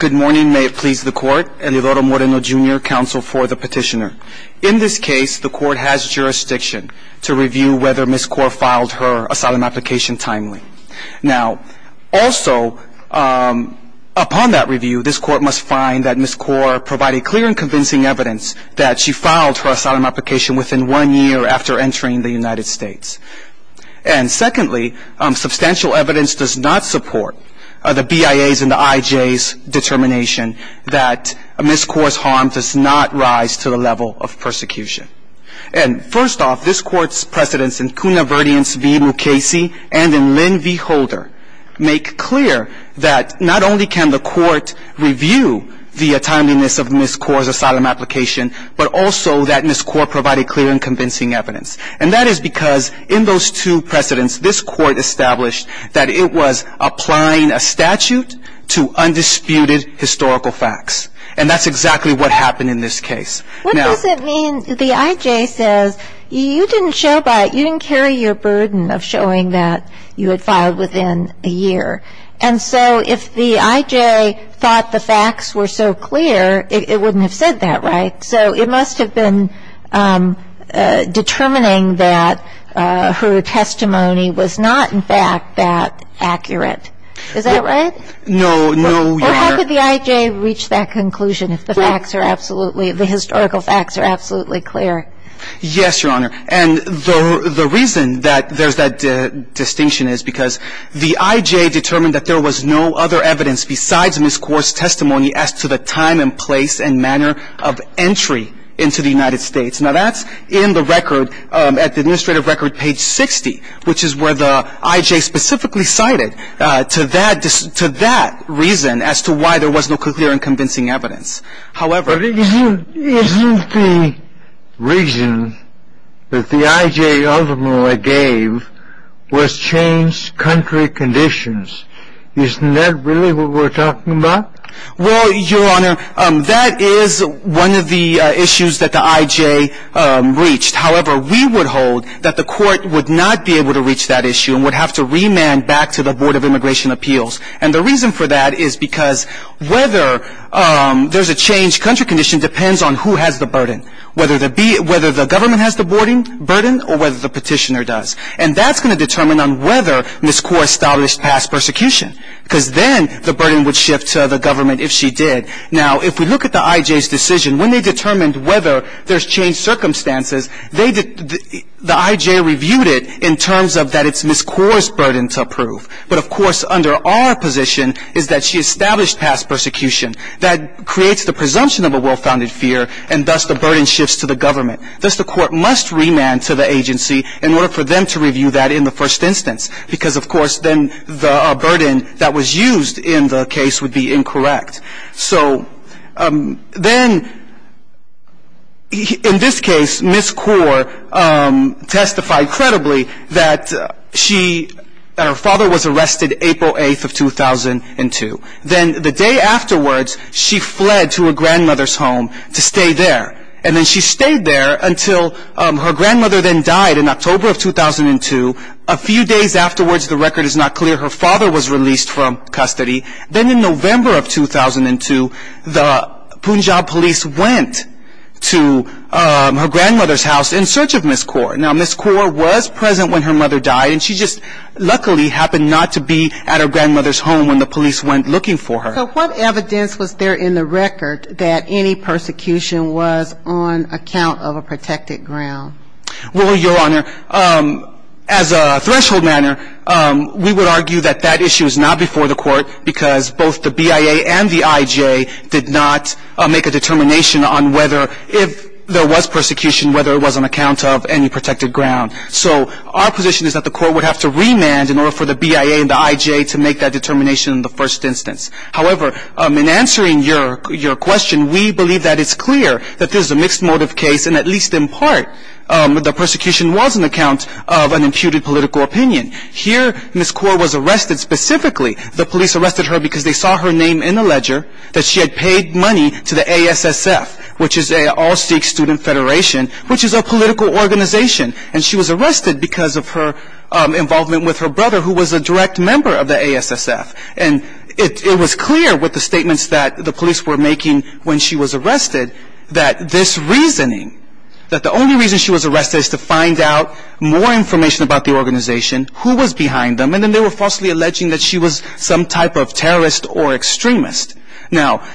Good morning, may it please the court. Elidoro Moreno, Jr., counsel for the petitioner. In this case, the court has jurisdiction to review whether Ms. Kaur filed her asylum application timely. Now, also, upon that review, this court must find that Ms. Kaur provided clear and convincing evidence that she filed her asylum application within one year after entering the United States. And secondly, substantial evidence does not support the BIA's and the IJ's determination that Ms. Kaur's harm does not rise to the level of persecution. And first off, this court's precedents in Kuna Verdiens v. Mukasey and in Lynn v. Holder make clear that not only can the court review the timeliness of Ms. Kaur's asylum application, but also that Ms. Kaur provided clear and convincing evidence. And that is because in those two precedents, this court established that it was applying a statute to undisputed historical facts. And that's exactly what happened in this case. What does it mean, the IJ says, you didn't show by it, you didn't carry your burden of showing that you had filed within a year. And so if the IJ thought the facts were so clear, it wouldn't have said that, right? So it must have been determining that her testimony was not, in fact, that accurate. Is that right? No, no, Your Honor. Or how could the IJ reach that conclusion if the facts are absolutely, the historical facts are absolutely clear? Yes, Your Honor. And the reason that there's that distinction is because the IJ determined that there was no other evidence besides Ms. Kaur's testimony as to the time and place and manner of entry into the United States. Now, that's in the record, at the administrative record, page 60, which is where the IJ specifically cited to that reason as to why there was no clear and convincing evidence. But isn't the reason that the IJ ultimately gave was changed country conditions? Isn't that really what we're talking about? Well, Your Honor, that is one of the issues that the IJ reached. However, we would hold that the court would not be able to reach that issue and would have to remand back to the Board of Immigration Appeals. And the reason for that is because whether there's a changed country condition depends on who has the burden, whether the government has the burden or whether the petitioner does. And that's going to determine on whether Ms. Kaur established past persecution because then the burden would shift to the government if she did. Now, if we look at the IJ's decision, when they determined whether there's changed circumstances, the IJ reviewed it in terms of that it's Ms. Kaur's burden to approve. But, of course, under our position is that she established past persecution. That creates the presumption of a well-founded fear, and thus the burden shifts to the government. Thus, the court must remand to the agency in order for them to review that in the first instance because, of course, then the burden that was used in the case would be incorrect. So then in this case, Ms. Kaur testified credibly that her father was arrested April 8th of 2002. Then the day afterwards, she fled to her grandmother's home to stay there. And then she stayed there until her grandmother then died in October of 2002. A few days afterwards, the record is not clear, her father was released from custody. Then in November of 2002, the Punjab police went to her grandmother's house in search of Ms. Kaur. Now, Ms. Kaur was present when her mother died, and she just luckily happened not to be at her grandmother's home when the police went looking for her. So what evidence was there in the record that any persecution was on account of a protected ground? Well, Your Honor, as a threshold matter, we would argue that that issue is not before the court because both the BIA and the IJ did not make a determination on whether if there was persecution, whether it was on account of any protected ground. So our position is that the court would have to remand in order for the BIA and the IJ to make that determination in the first instance. However, in answering your question, we believe that it's clear that this is a mixed motive case, and at least in part, the persecution was on account of an imputed political opinion. Here, Ms. Kaur was arrested specifically. The police arrested her because they saw her name in the ledger, that she had paid money to the ASSF, which is an all Sikh student federation, which is a political organization. And she was arrested because of her involvement with her brother, who was a direct member of the ASSF. And it was clear with the statements that the police were making when she was arrested that this reasoning, that the only reason she was arrested is to find out more information about the organization, who was behind them, and then they were falsely alleging that she was some type of terrorist or extremist. Now,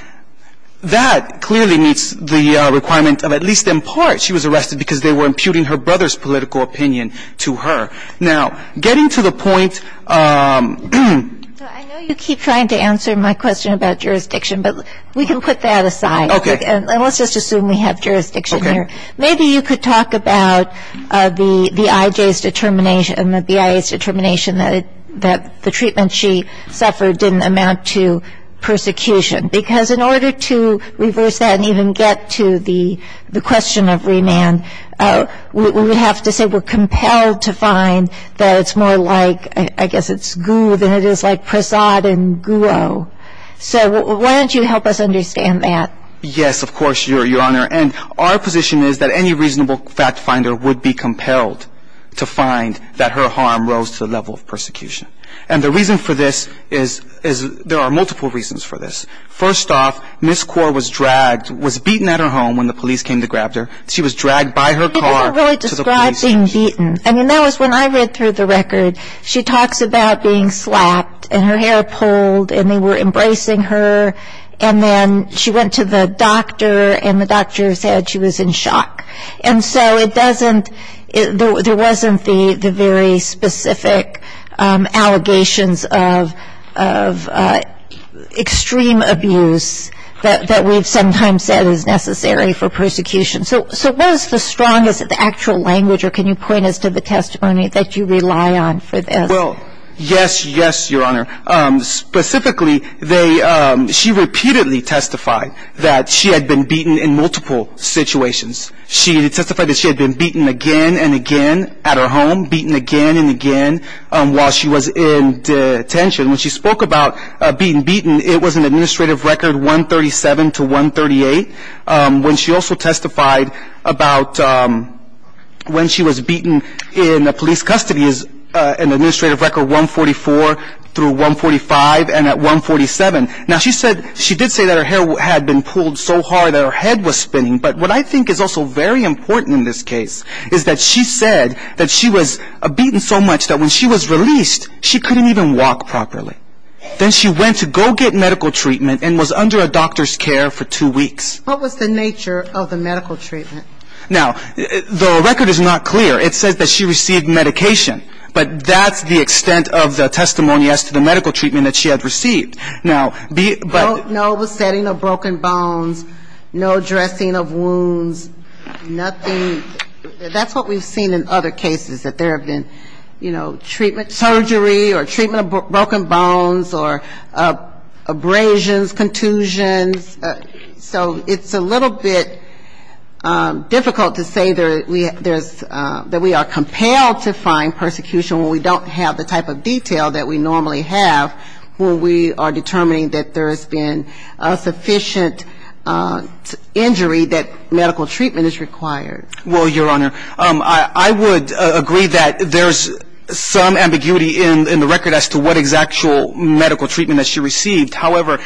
that clearly meets the requirement of at least in part, she was arrested because they were imputing her brother's political opinion to her. Now, getting to the point. I know you keep trying to answer my question about jurisdiction, but we can put that aside. Okay. And let's just assume we have jurisdiction here. Maybe you could talk about the IJ's determination and the BIA's determination that the treatment she suffered didn't amount to persecution. Because in order to reverse that and even get to the question of remand, we would have to say we're compelled to find that it's more like, I guess it's goo than it is like prasad and guo. So why don't you help us understand that? Yes, of course, Your Honor. And our position is that any reasonable fact finder would be compelled to find that her harm rose to the level of persecution. And the reason for this is there are multiple reasons for this. First off, Ms. Kaur was dragged, was beaten at her home when the police came to grab her. She was dragged by her car to the police station. I didn't really describe being beaten. I mean, that was when I read through the record. She talks about being slapped and her hair pulled and they were embracing her. And then she went to the doctor and the doctor said she was in shock. And so it doesn't, there wasn't the very specific allegations of extreme abuse that we've sometimes said is necessary for persecution. So what is the strongest, the actual language, or can you point us to the testimony that you rely on for this? Well, yes, yes, Your Honor. Specifically, she repeatedly testified that she had been beaten in multiple situations. She testified that she had been beaten again and again at her home, beaten again and again while she was in detention. When she spoke about being beaten, it was an administrative record 137 to 138. When she also testified about when she was beaten in the police custody is an administrative record 144 through 145 and at 147. Now she said, she did say that her hair had been pulled so hard that her head was spinning. But what I think is also very important in this case is that she said that she was beaten so much that when she was released, she couldn't even walk properly. Then she went to go get medical treatment and was under a doctor's care for two weeks. What was the nature of the medical treatment? Now, the record is not clear. It says that she received medication. But that's the extent of the testimony as to the medical treatment that she had received. No besetting of broken bones, no dressing of wounds, nothing. That's what we've seen in other cases, that there have been, you know, treatment surgery or treatment of broken bones or abrasions, contusions. So it's a little bit difficult to say that we are compelled to find persecution when we don't have the type of detail that we normally have, when we are determining that there has been a sufficient injury that medical treatment is required. Well, Your Honor, I would agree that there's some ambiguity in the record as to what exact medical treatment that she received. However,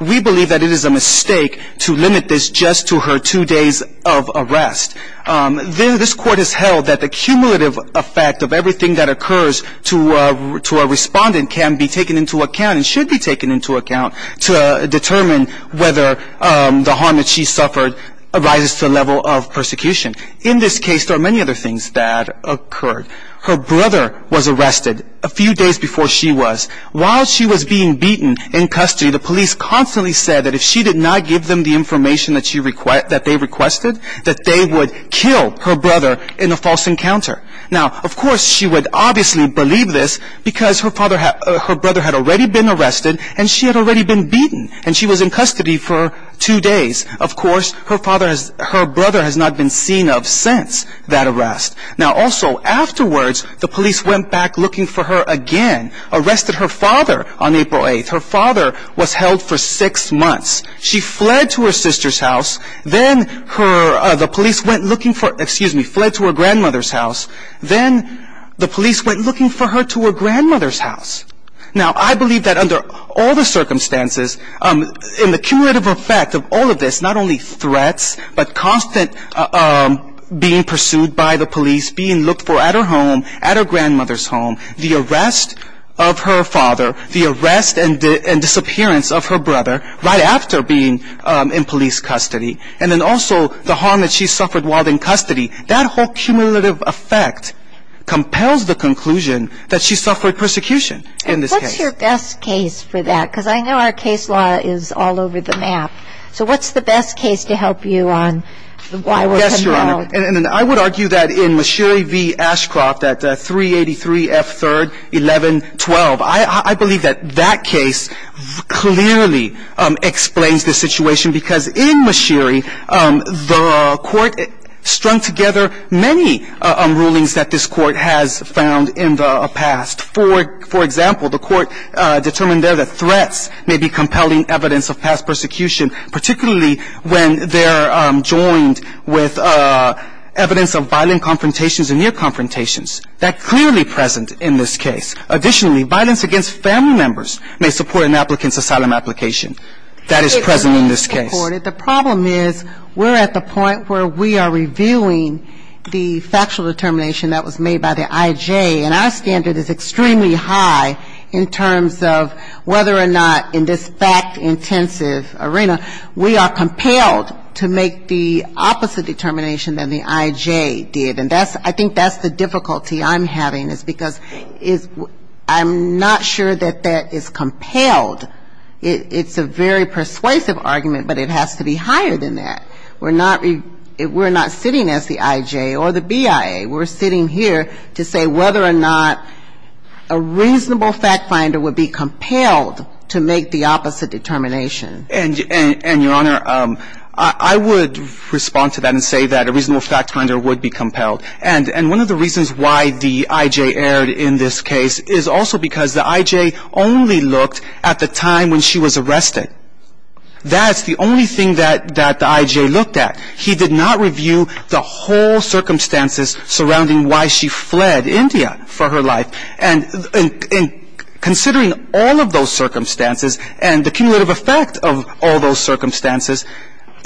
we believe that it is a mistake to limit this just to her two days of arrest. This Court has held that the cumulative effect of everything that occurs to a respondent can be taken into account and should be taken into account to determine whether the harm that she suffered arises to the level of persecution. In this case, there are many other things that occurred. Her brother was arrested a few days before she was. While she was being beaten in custody, the police constantly said that if she did not give them the information that they requested, that they would kill her brother in a false encounter. Now, of course, she would obviously believe this because her brother had already been arrested, and she had already been beaten, and she was in custody for two days. Of course, her brother has not been seen of since that arrest. Now, also, afterwards, the police went back looking for her again, arrested her father on April 8th. Her father was held for six months. She fled to her sister's house. Then the police went looking for her, excuse me, fled to her grandmother's house. Then the police went looking for her to her grandmother's house. Now, I believe that under all the circumstances, in the cumulative effect of all of this, not only threats, but constant being pursued by the police, being looked for at her home, at her grandmother's home, the arrest of her father, the arrest and disappearance of her brother right after being in police custody, and then also the harm that she suffered while in custody, that whole cumulative effect compels the conclusion that she suffered persecution in this case. And what's your best case for that? Because I know our case law is all over the map. So what's the best case to help you on why we're compelled? Yes, Your Honor. And I would argue that in Mashiri v. Ashcroft at 383 F. 3rd, 1112, I believe that that case clearly explains the situation because in Mashiri, the court strung together many rulings that this court has found in the past. For example, the court determined there that threats may be compelling evidence of past persecution, particularly when they're joined with evidence of violent confrontations and near confrontations. That's clearly present in this case. Additionally, violence against family members may support an applicant's asylum application. That is present in this case. It is not supported. The problem is we're at the point where we are reviewing the factual determination that was made by the IJ, and our standard is extremely high in terms of whether or not in this fact-intensive arena, we are compelled to make the opposite determination than the IJ did. And I think that's the difficulty I'm having, is because I'm not sure that that is compelled. It's a very persuasive argument, but it has to be higher than that. We're not sitting as the IJ or the BIA. We're sitting here to say whether or not a reasonable fact-finder would be compelled to make the opposite determination. And, Your Honor, I would respond to that and say that a reasonable fact-finder would be compelled. And one of the reasons why the IJ erred in this case is also because the IJ only looked at the time when she was arrested. That's the only thing that the IJ looked at. He did not review the whole circumstances surrounding why she fled India for her life. And considering all of those circumstances and the cumulative effect of all those circumstances,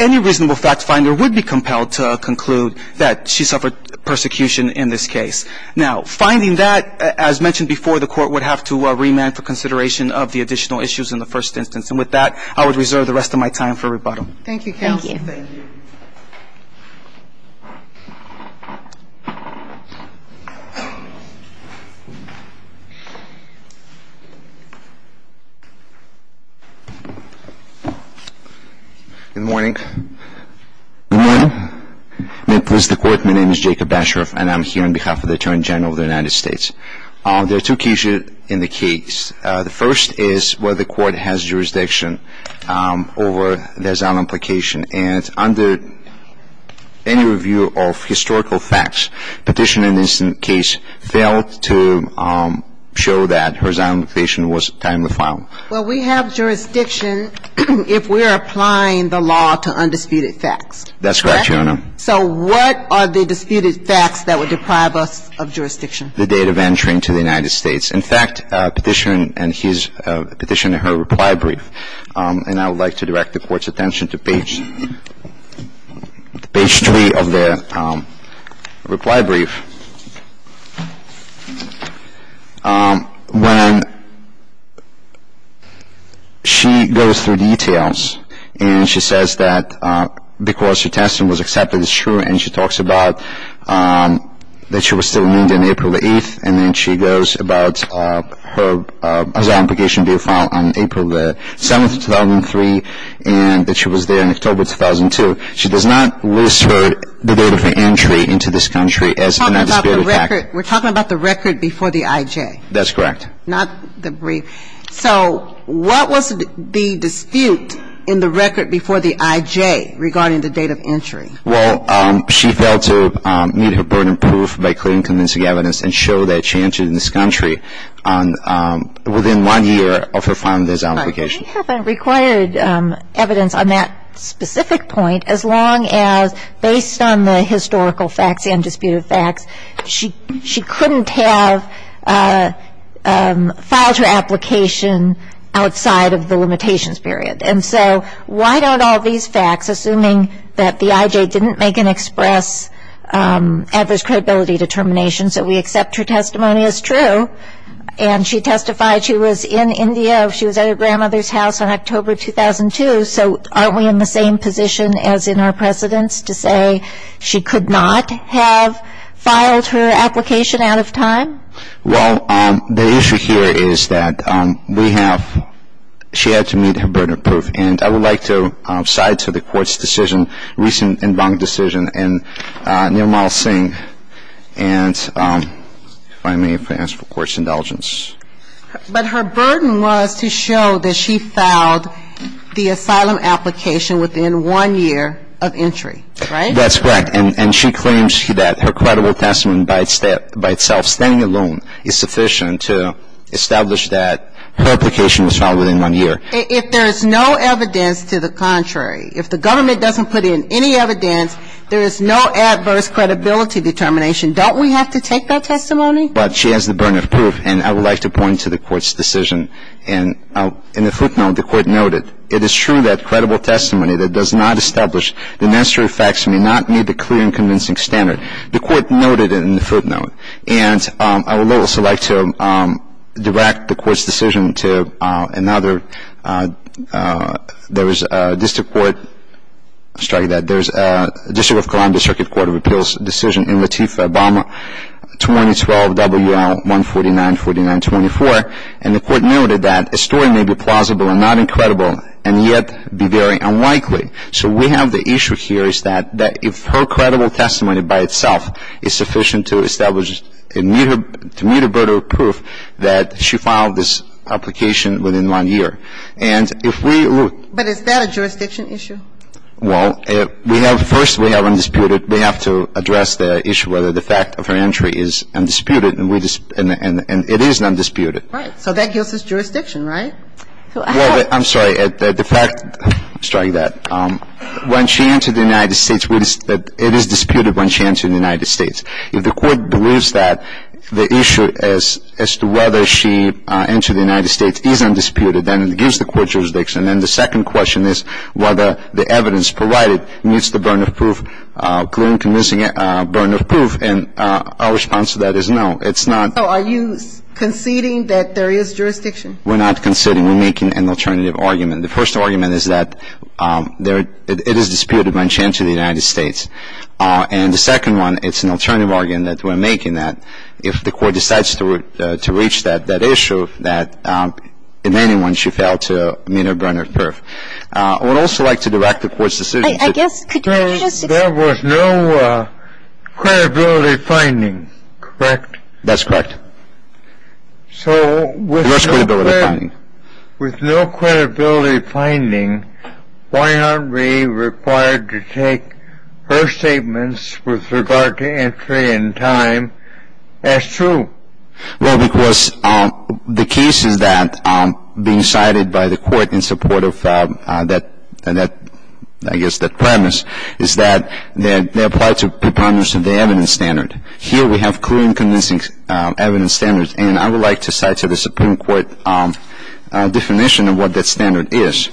any reasonable fact-finder would be compelled to conclude that she suffered persecution in this case. Now, finding that, as mentioned before, the Court would have to remand for consideration of the additional issues in the first instance. And with that, I would reserve the rest of my time for rebuttal. Thank you, counsel. Thank you. Good morning. Good morning. May it please the Court, my name is Jacob Bashoroff, and I'm here on behalf of the Attorney General of the United States. There are two cases in the case. The first is where the Court has jurisdiction over the asylum application. And under any review of historical facts, Petitioner in this case failed to show that her asylum application was timely filed. Well, we have jurisdiction if we're applying the law to undisputed facts. That's correct, Your Honor. So what are the disputed facts that would deprive us of jurisdiction? The date of entry into the United States. In fact, Petitioner and his Petitioner, her reply brief, and I would like to direct the Court's attention to page three of the reply brief. When she goes through details and she says that because her testimony was accepted as true and she talks about that she was still in India and then she goes about her asylum application being filed on April 7th, 2003, and that she was there in October 2002. She does not list the date of her entry into this country as an undisputed fact. We're talking about the record before the IJ. That's correct. Not the brief. So what was the dispute in the record before the IJ regarding the date of entry? Well, she failed to meet her burden of proof by clearing convincing evidence and showed that she entered this country within one year of her filing of this application. All right. They haven't required evidence on that specific point as long as based on the historical facts, undisputed facts, she couldn't have filed her application outside of the limitations period. And so why don't all these facts, assuming that the IJ didn't make an express adverse credibility determination so we accept her testimony as true and she testified she was in India, she was at her grandmother's house on October 2002, so aren't we in the same position as in our precedence to say she could not have filed her application out of time? Well, the issue here is that we have ‑‑ she had to meet her burden of proof. And I would like to side to the Court's decision, recent en banc decision in Nirmal Singh. And if I may, if I may ask for Court's indulgence. But her burden was to show that she filed the asylum application within one year of entry, right? That's correct. And she claims that her credible testimony by itself, standing alone, is sufficient to establish that her application was filed within one year. If there is no evidence to the contrary, if the government doesn't put in any evidence, there is no adverse credibility determination, don't we have to take that testimony? But she has the burden of proof. And I would like to point to the Court's decision. And in the footnote, the Court noted, it is true that credible testimony that does not establish the necessary facts may not meet the clear and convincing standard. The Court noted it in the footnote. And I would also like to direct the Court's decision to another. There is a district court, sorry to say that, there is a District of Columbia Circuit Court of Appeals decision in Latifa Obama 2012 WL 1494924. And the Court noted that a story may be plausible and not incredible and yet be very unlikely. So we have the issue here is that if her credible testimony by itself is sufficient to establish, to meet her burden of proof, that she filed this application within one year. And if we look at. But is that a jurisdiction issue? Well, we have, first we have undisputed, we have to address the issue whether the fact of her entry is undisputed and it is undisputed. Right. So that gives us jurisdiction, right? Well, I'm sorry. The fact, sorry, that when she entered the United States, it is disputed when she entered the United States. If the Court believes that the issue as to whether she entered the United States is undisputed, then it gives the Court jurisdiction. And then the second question is whether the evidence provided meets the burden of proof, and our response to that is no. It's not. So are you conceding that there is jurisdiction? We're not conceding. We're making an alternative argument. The first argument is that it is disputed when she entered the United States. And the second one, it's an alternative argument that we're making that if the Court decides to reach that issue, that in any one, she failed to meet her burden of proof. I would also like to direct the Court's decision to. There was no credibility finding, correct? That's correct. So with no credibility finding, why aren't we required to take her statements with regard to entry and time as true? Well, because the cases that are being cited by the Court in support of that, I guess, that premise is that they apply to preponderance of the evidence standard. Here we have clear and convincing evidence standards, and I would like to cite to the Supreme Court definition of what that standard is.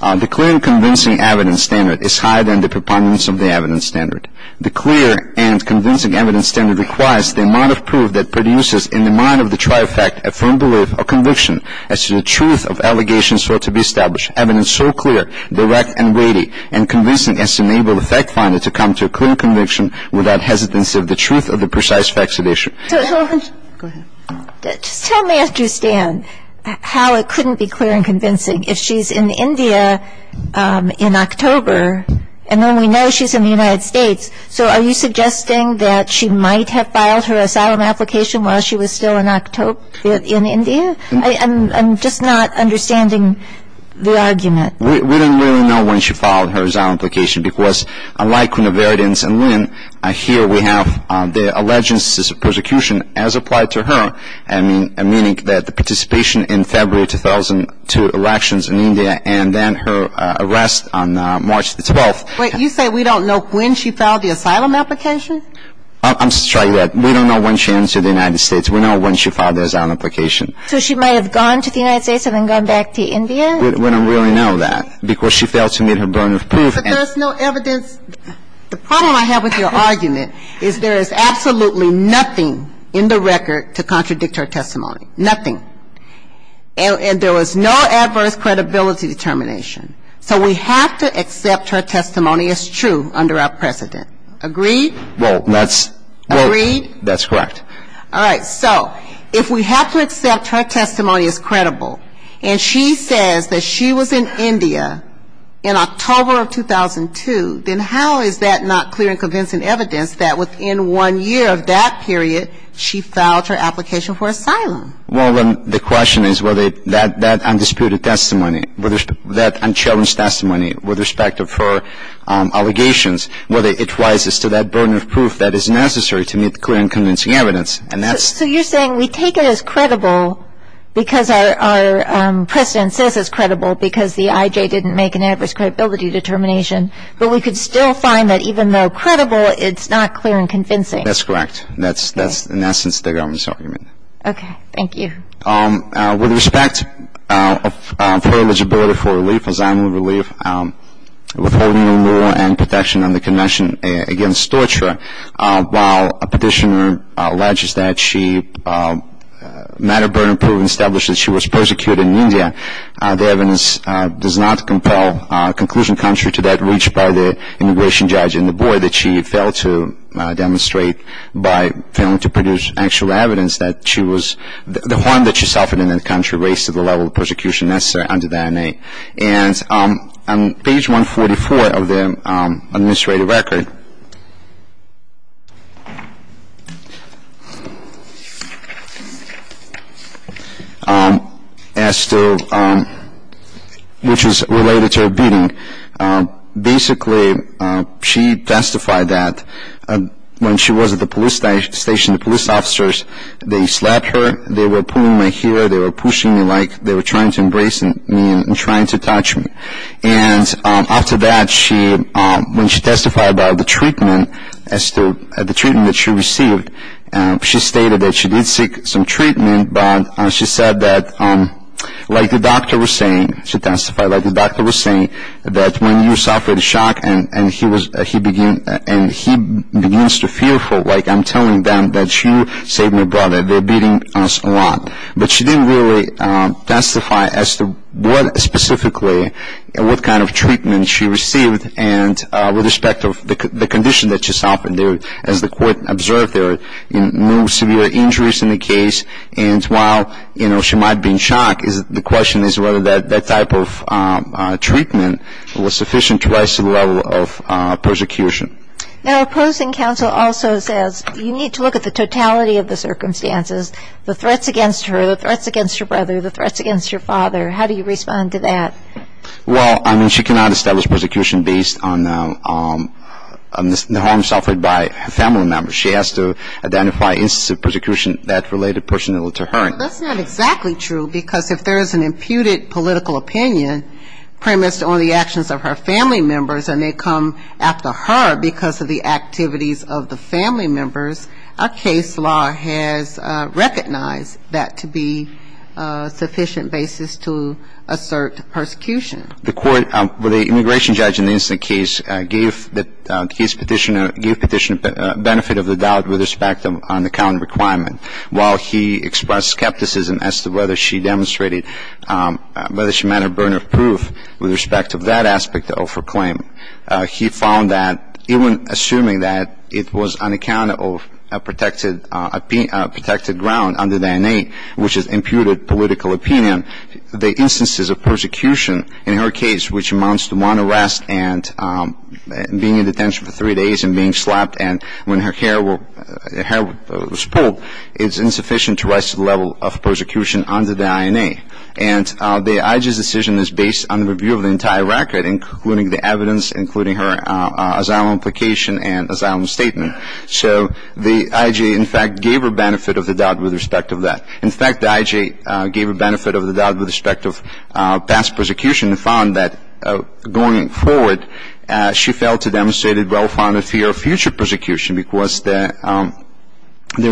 The clear and convincing evidence standard is higher than the preponderance of the evidence standard. The clear and convincing evidence standard requires the amount of proof that produces in the mind of the trifecta a firm belief or conviction as to the truth of allegations thought to be established. Evidence so clear, direct, and weighty and convincing as to enable the fact finder to come to a clear conviction without hesitancy of the truth of the precise facts of the issue. Go ahead. Just tell me, I understand how it couldn't be clear and convincing. If she's in India in October, and then we know she's in the United States, so are you suggesting that she might have filed her asylum application while she was still in India? I'm just not understanding the argument. We don't really know when she filed her asylum application because, unlike Quinn of Arden and Lynn, here we have the allegiances of persecution as applied to her, meaning that the participation in February 2002 elections in India and then her arrest on March the 12th. Wait. You say we don't know when she filed the asylum application? I'm just trying to get that. We don't know when she entered the United States. We know when she filed her asylum application. So she might have gone to the United States and then gone back to India? We don't really know that because she failed to meet her burden of proof. But there's no evidence. The problem I have with your argument is there is absolutely nothing in the record to contradict her testimony. Nothing. And there was no adverse credibility determination. So we have to accept her testimony as true under our precedent. Agreed? Agreed? That's correct. All right. So if we have to accept her testimony as credible, and she says that she was in India in October of 2002, then how is that not clear and convincing evidence that within one year of that period she filed her application for asylum? Well, the question is whether that undisputed testimony, that unchallenged testimony with respect to her allegations, whether it rises to that burden of proof that is necessary to meet the clear and convincing evidence. So you're saying we take it as credible because our precedent says it's credible because the IJ didn't make an adverse credibility determination, but we could still find that even though credible, it's not clear and convincing. That's correct. That's in essence the government's argument. Okay. Thank you. With respect of her eligibility for relief, asylum relief, withholding a war and protection under convention against torture, while a petitioner alleges that she met a burden of proof and established that she was persecuted in India, the evidence does not compel conclusion contrary to that reached by the immigration judge and the board that she failed to demonstrate by failing to produce actual evidence that she was. The harm that she suffered in that country raised to the level of persecution necessary under the INA. And on page 144 of the administrative record, which is related to her beating, basically she testified that when she was at the police station, the police officers, they slapped her. They were pulling my hair. They were pushing me like they were trying to embrace me and trying to touch me. And after that, when she testified about the treatment that she received, she stated that she did seek some treatment, but she said that like the doctor was saying, that when you suffer the shock and he begins to fearful, like I'm telling them that you saved my brother, they're beating us a lot. But she didn't really testify as to what specifically, what kind of treatment she received and with respect of the condition that she suffered there, as the court observed there, no severe injuries in the case. And while, you know, she might have been shocked, the question is whether that type of treatment was sufficient to rise to the level of persecution. Now, opposing counsel also says you need to look at the totality of the circumstances, the threats against her, the threats against your brother, the threats against your father. How do you respond to that? Well, I mean, she cannot establish persecution based on the harm suffered by family members. She has to identify instances of persecution that related personally to her. That's not exactly true because if there is an imputed political opinion premised on the actions of her family members and they come after her because of the activities of the family members, a case law has recognized that to be a sufficient basis to assert persecution. The court, the immigration judge in the incident case gave the case petitioner, gave the petitioner benefit of the doubt with respect to unaccounted requirement. While he expressed skepticism as to whether she demonstrated, whether she met her burden of proof with respect to that aspect of her claim, he found that even assuming that it was unaccounted for, protected ground under the NA, which is imputed political opinion, the instances of persecution in her case, which amounts to one arrest and being in detention for three days and being slapped and when her hair was pulled is insufficient to rise to the level of persecution under the INA. And the IJA's decision is based on the review of the entire record, including the evidence, including her asylum application and asylum statement. So the IJA, in fact, gave her benefit of the doubt with respect to that. In fact, the IJA gave her benefit of the doubt with respect to past persecution and found that going forward she failed to demonstrate a well-founded fear of future persecution because there's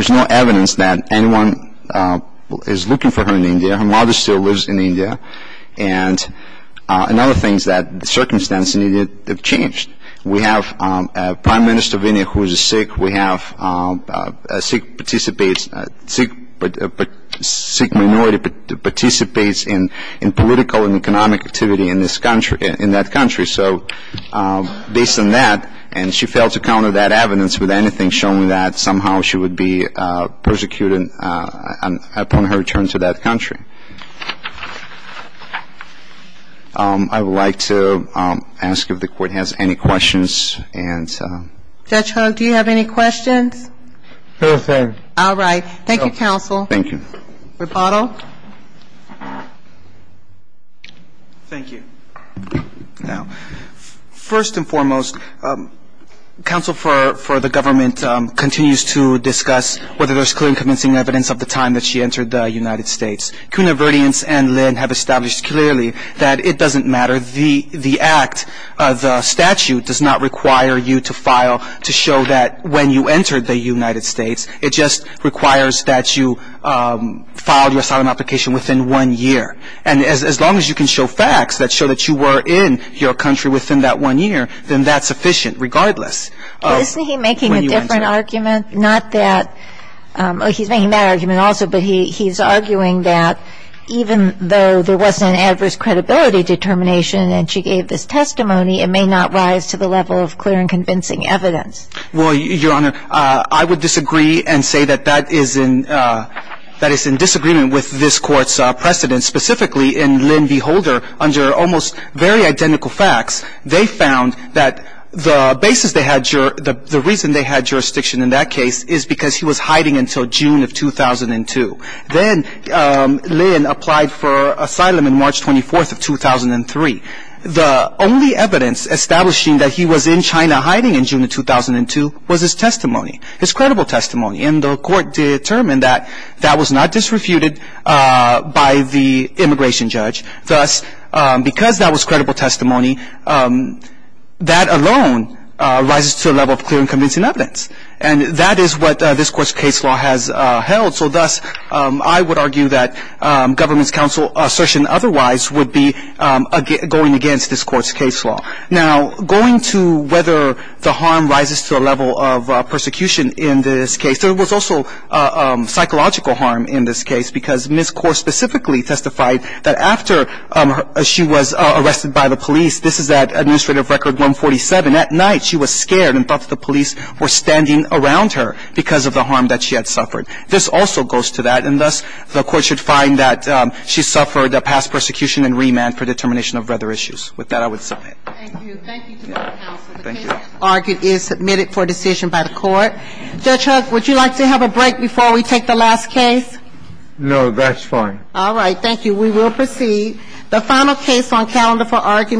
no evidence that anyone is looking for her in India. Her mother still lives in India. And another thing is that the circumstances in India have changed. We have a prime minister of India who is sick. We have a sick minority that participates in political and economic activity in this country, in that country. So based on that, and she failed to counter that evidence with anything showing that somehow she would be persecuted upon her return to that country. I would like to ask if the Court has any questions. Judge Hogue, do you have any questions? No, thank you. All right. Thank you, counsel. Thank you. Rebottle. Thank you. Now, first and foremost, counsel for the government continues to discuss whether there's clear and convincing evidence of the time that she entered the United States. Kuhn, Averdiens, and Lin have established clearly that it doesn't matter. The act, the statute does not require you to file to show that when you entered the United States. It just requires that you file your asylum application within one year. And as long as you can show facts that show that you were in your country within that one year, then that's sufficient regardless. Isn't he making a different argument? Not that he's making that argument also, but he's arguing that even though there wasn't an adverse credibility determination and she gave this testimony, it may not rise to the level of clear and convincing evidence. Well, Your Honor, I would disagree and say that that is in disagreement with this Court's precedent. Specifically, in Lin v. Holder, under almost very identical facts, they found that the reason they had jurisdiction in that case is because he was hiding until June of 2002. Then Lin applied for asylum on March 24th of 2003. The only evidence establishing that he was in China hiding in June of 2002 was his testimony, his credible testimony. And the Court determined that that was not disrefuted by the immigration judge. Thus, because that was credible testimony, that alone rises to a level of clear and convincing evidence. And that is what this Court's case law has held. So thus, I would argue that government's counsel assertion otherwise would be going against this Court's case law. Now, going to whether the harm rises to a level of persecution in this case, there was also psychological harm in this case because Ms. Corr specifically testified that after she was arrested by the police, this is at administrative record 147, at night she was scared and thought that the police were standing around her because of the harm that she had suffered. This also goes to that. And thus, the Court should find that she suffered a past persecution and remand for determination of other issues. With that, I would submit. Thank you. Thank you to my counsel. Thank you. The case argued is submitted for decision by the Court. Judge Huck, would you like to have a break before we take the last case? No, that's fine. All right. Thank you. We will proceed. The final case on calendar for argument.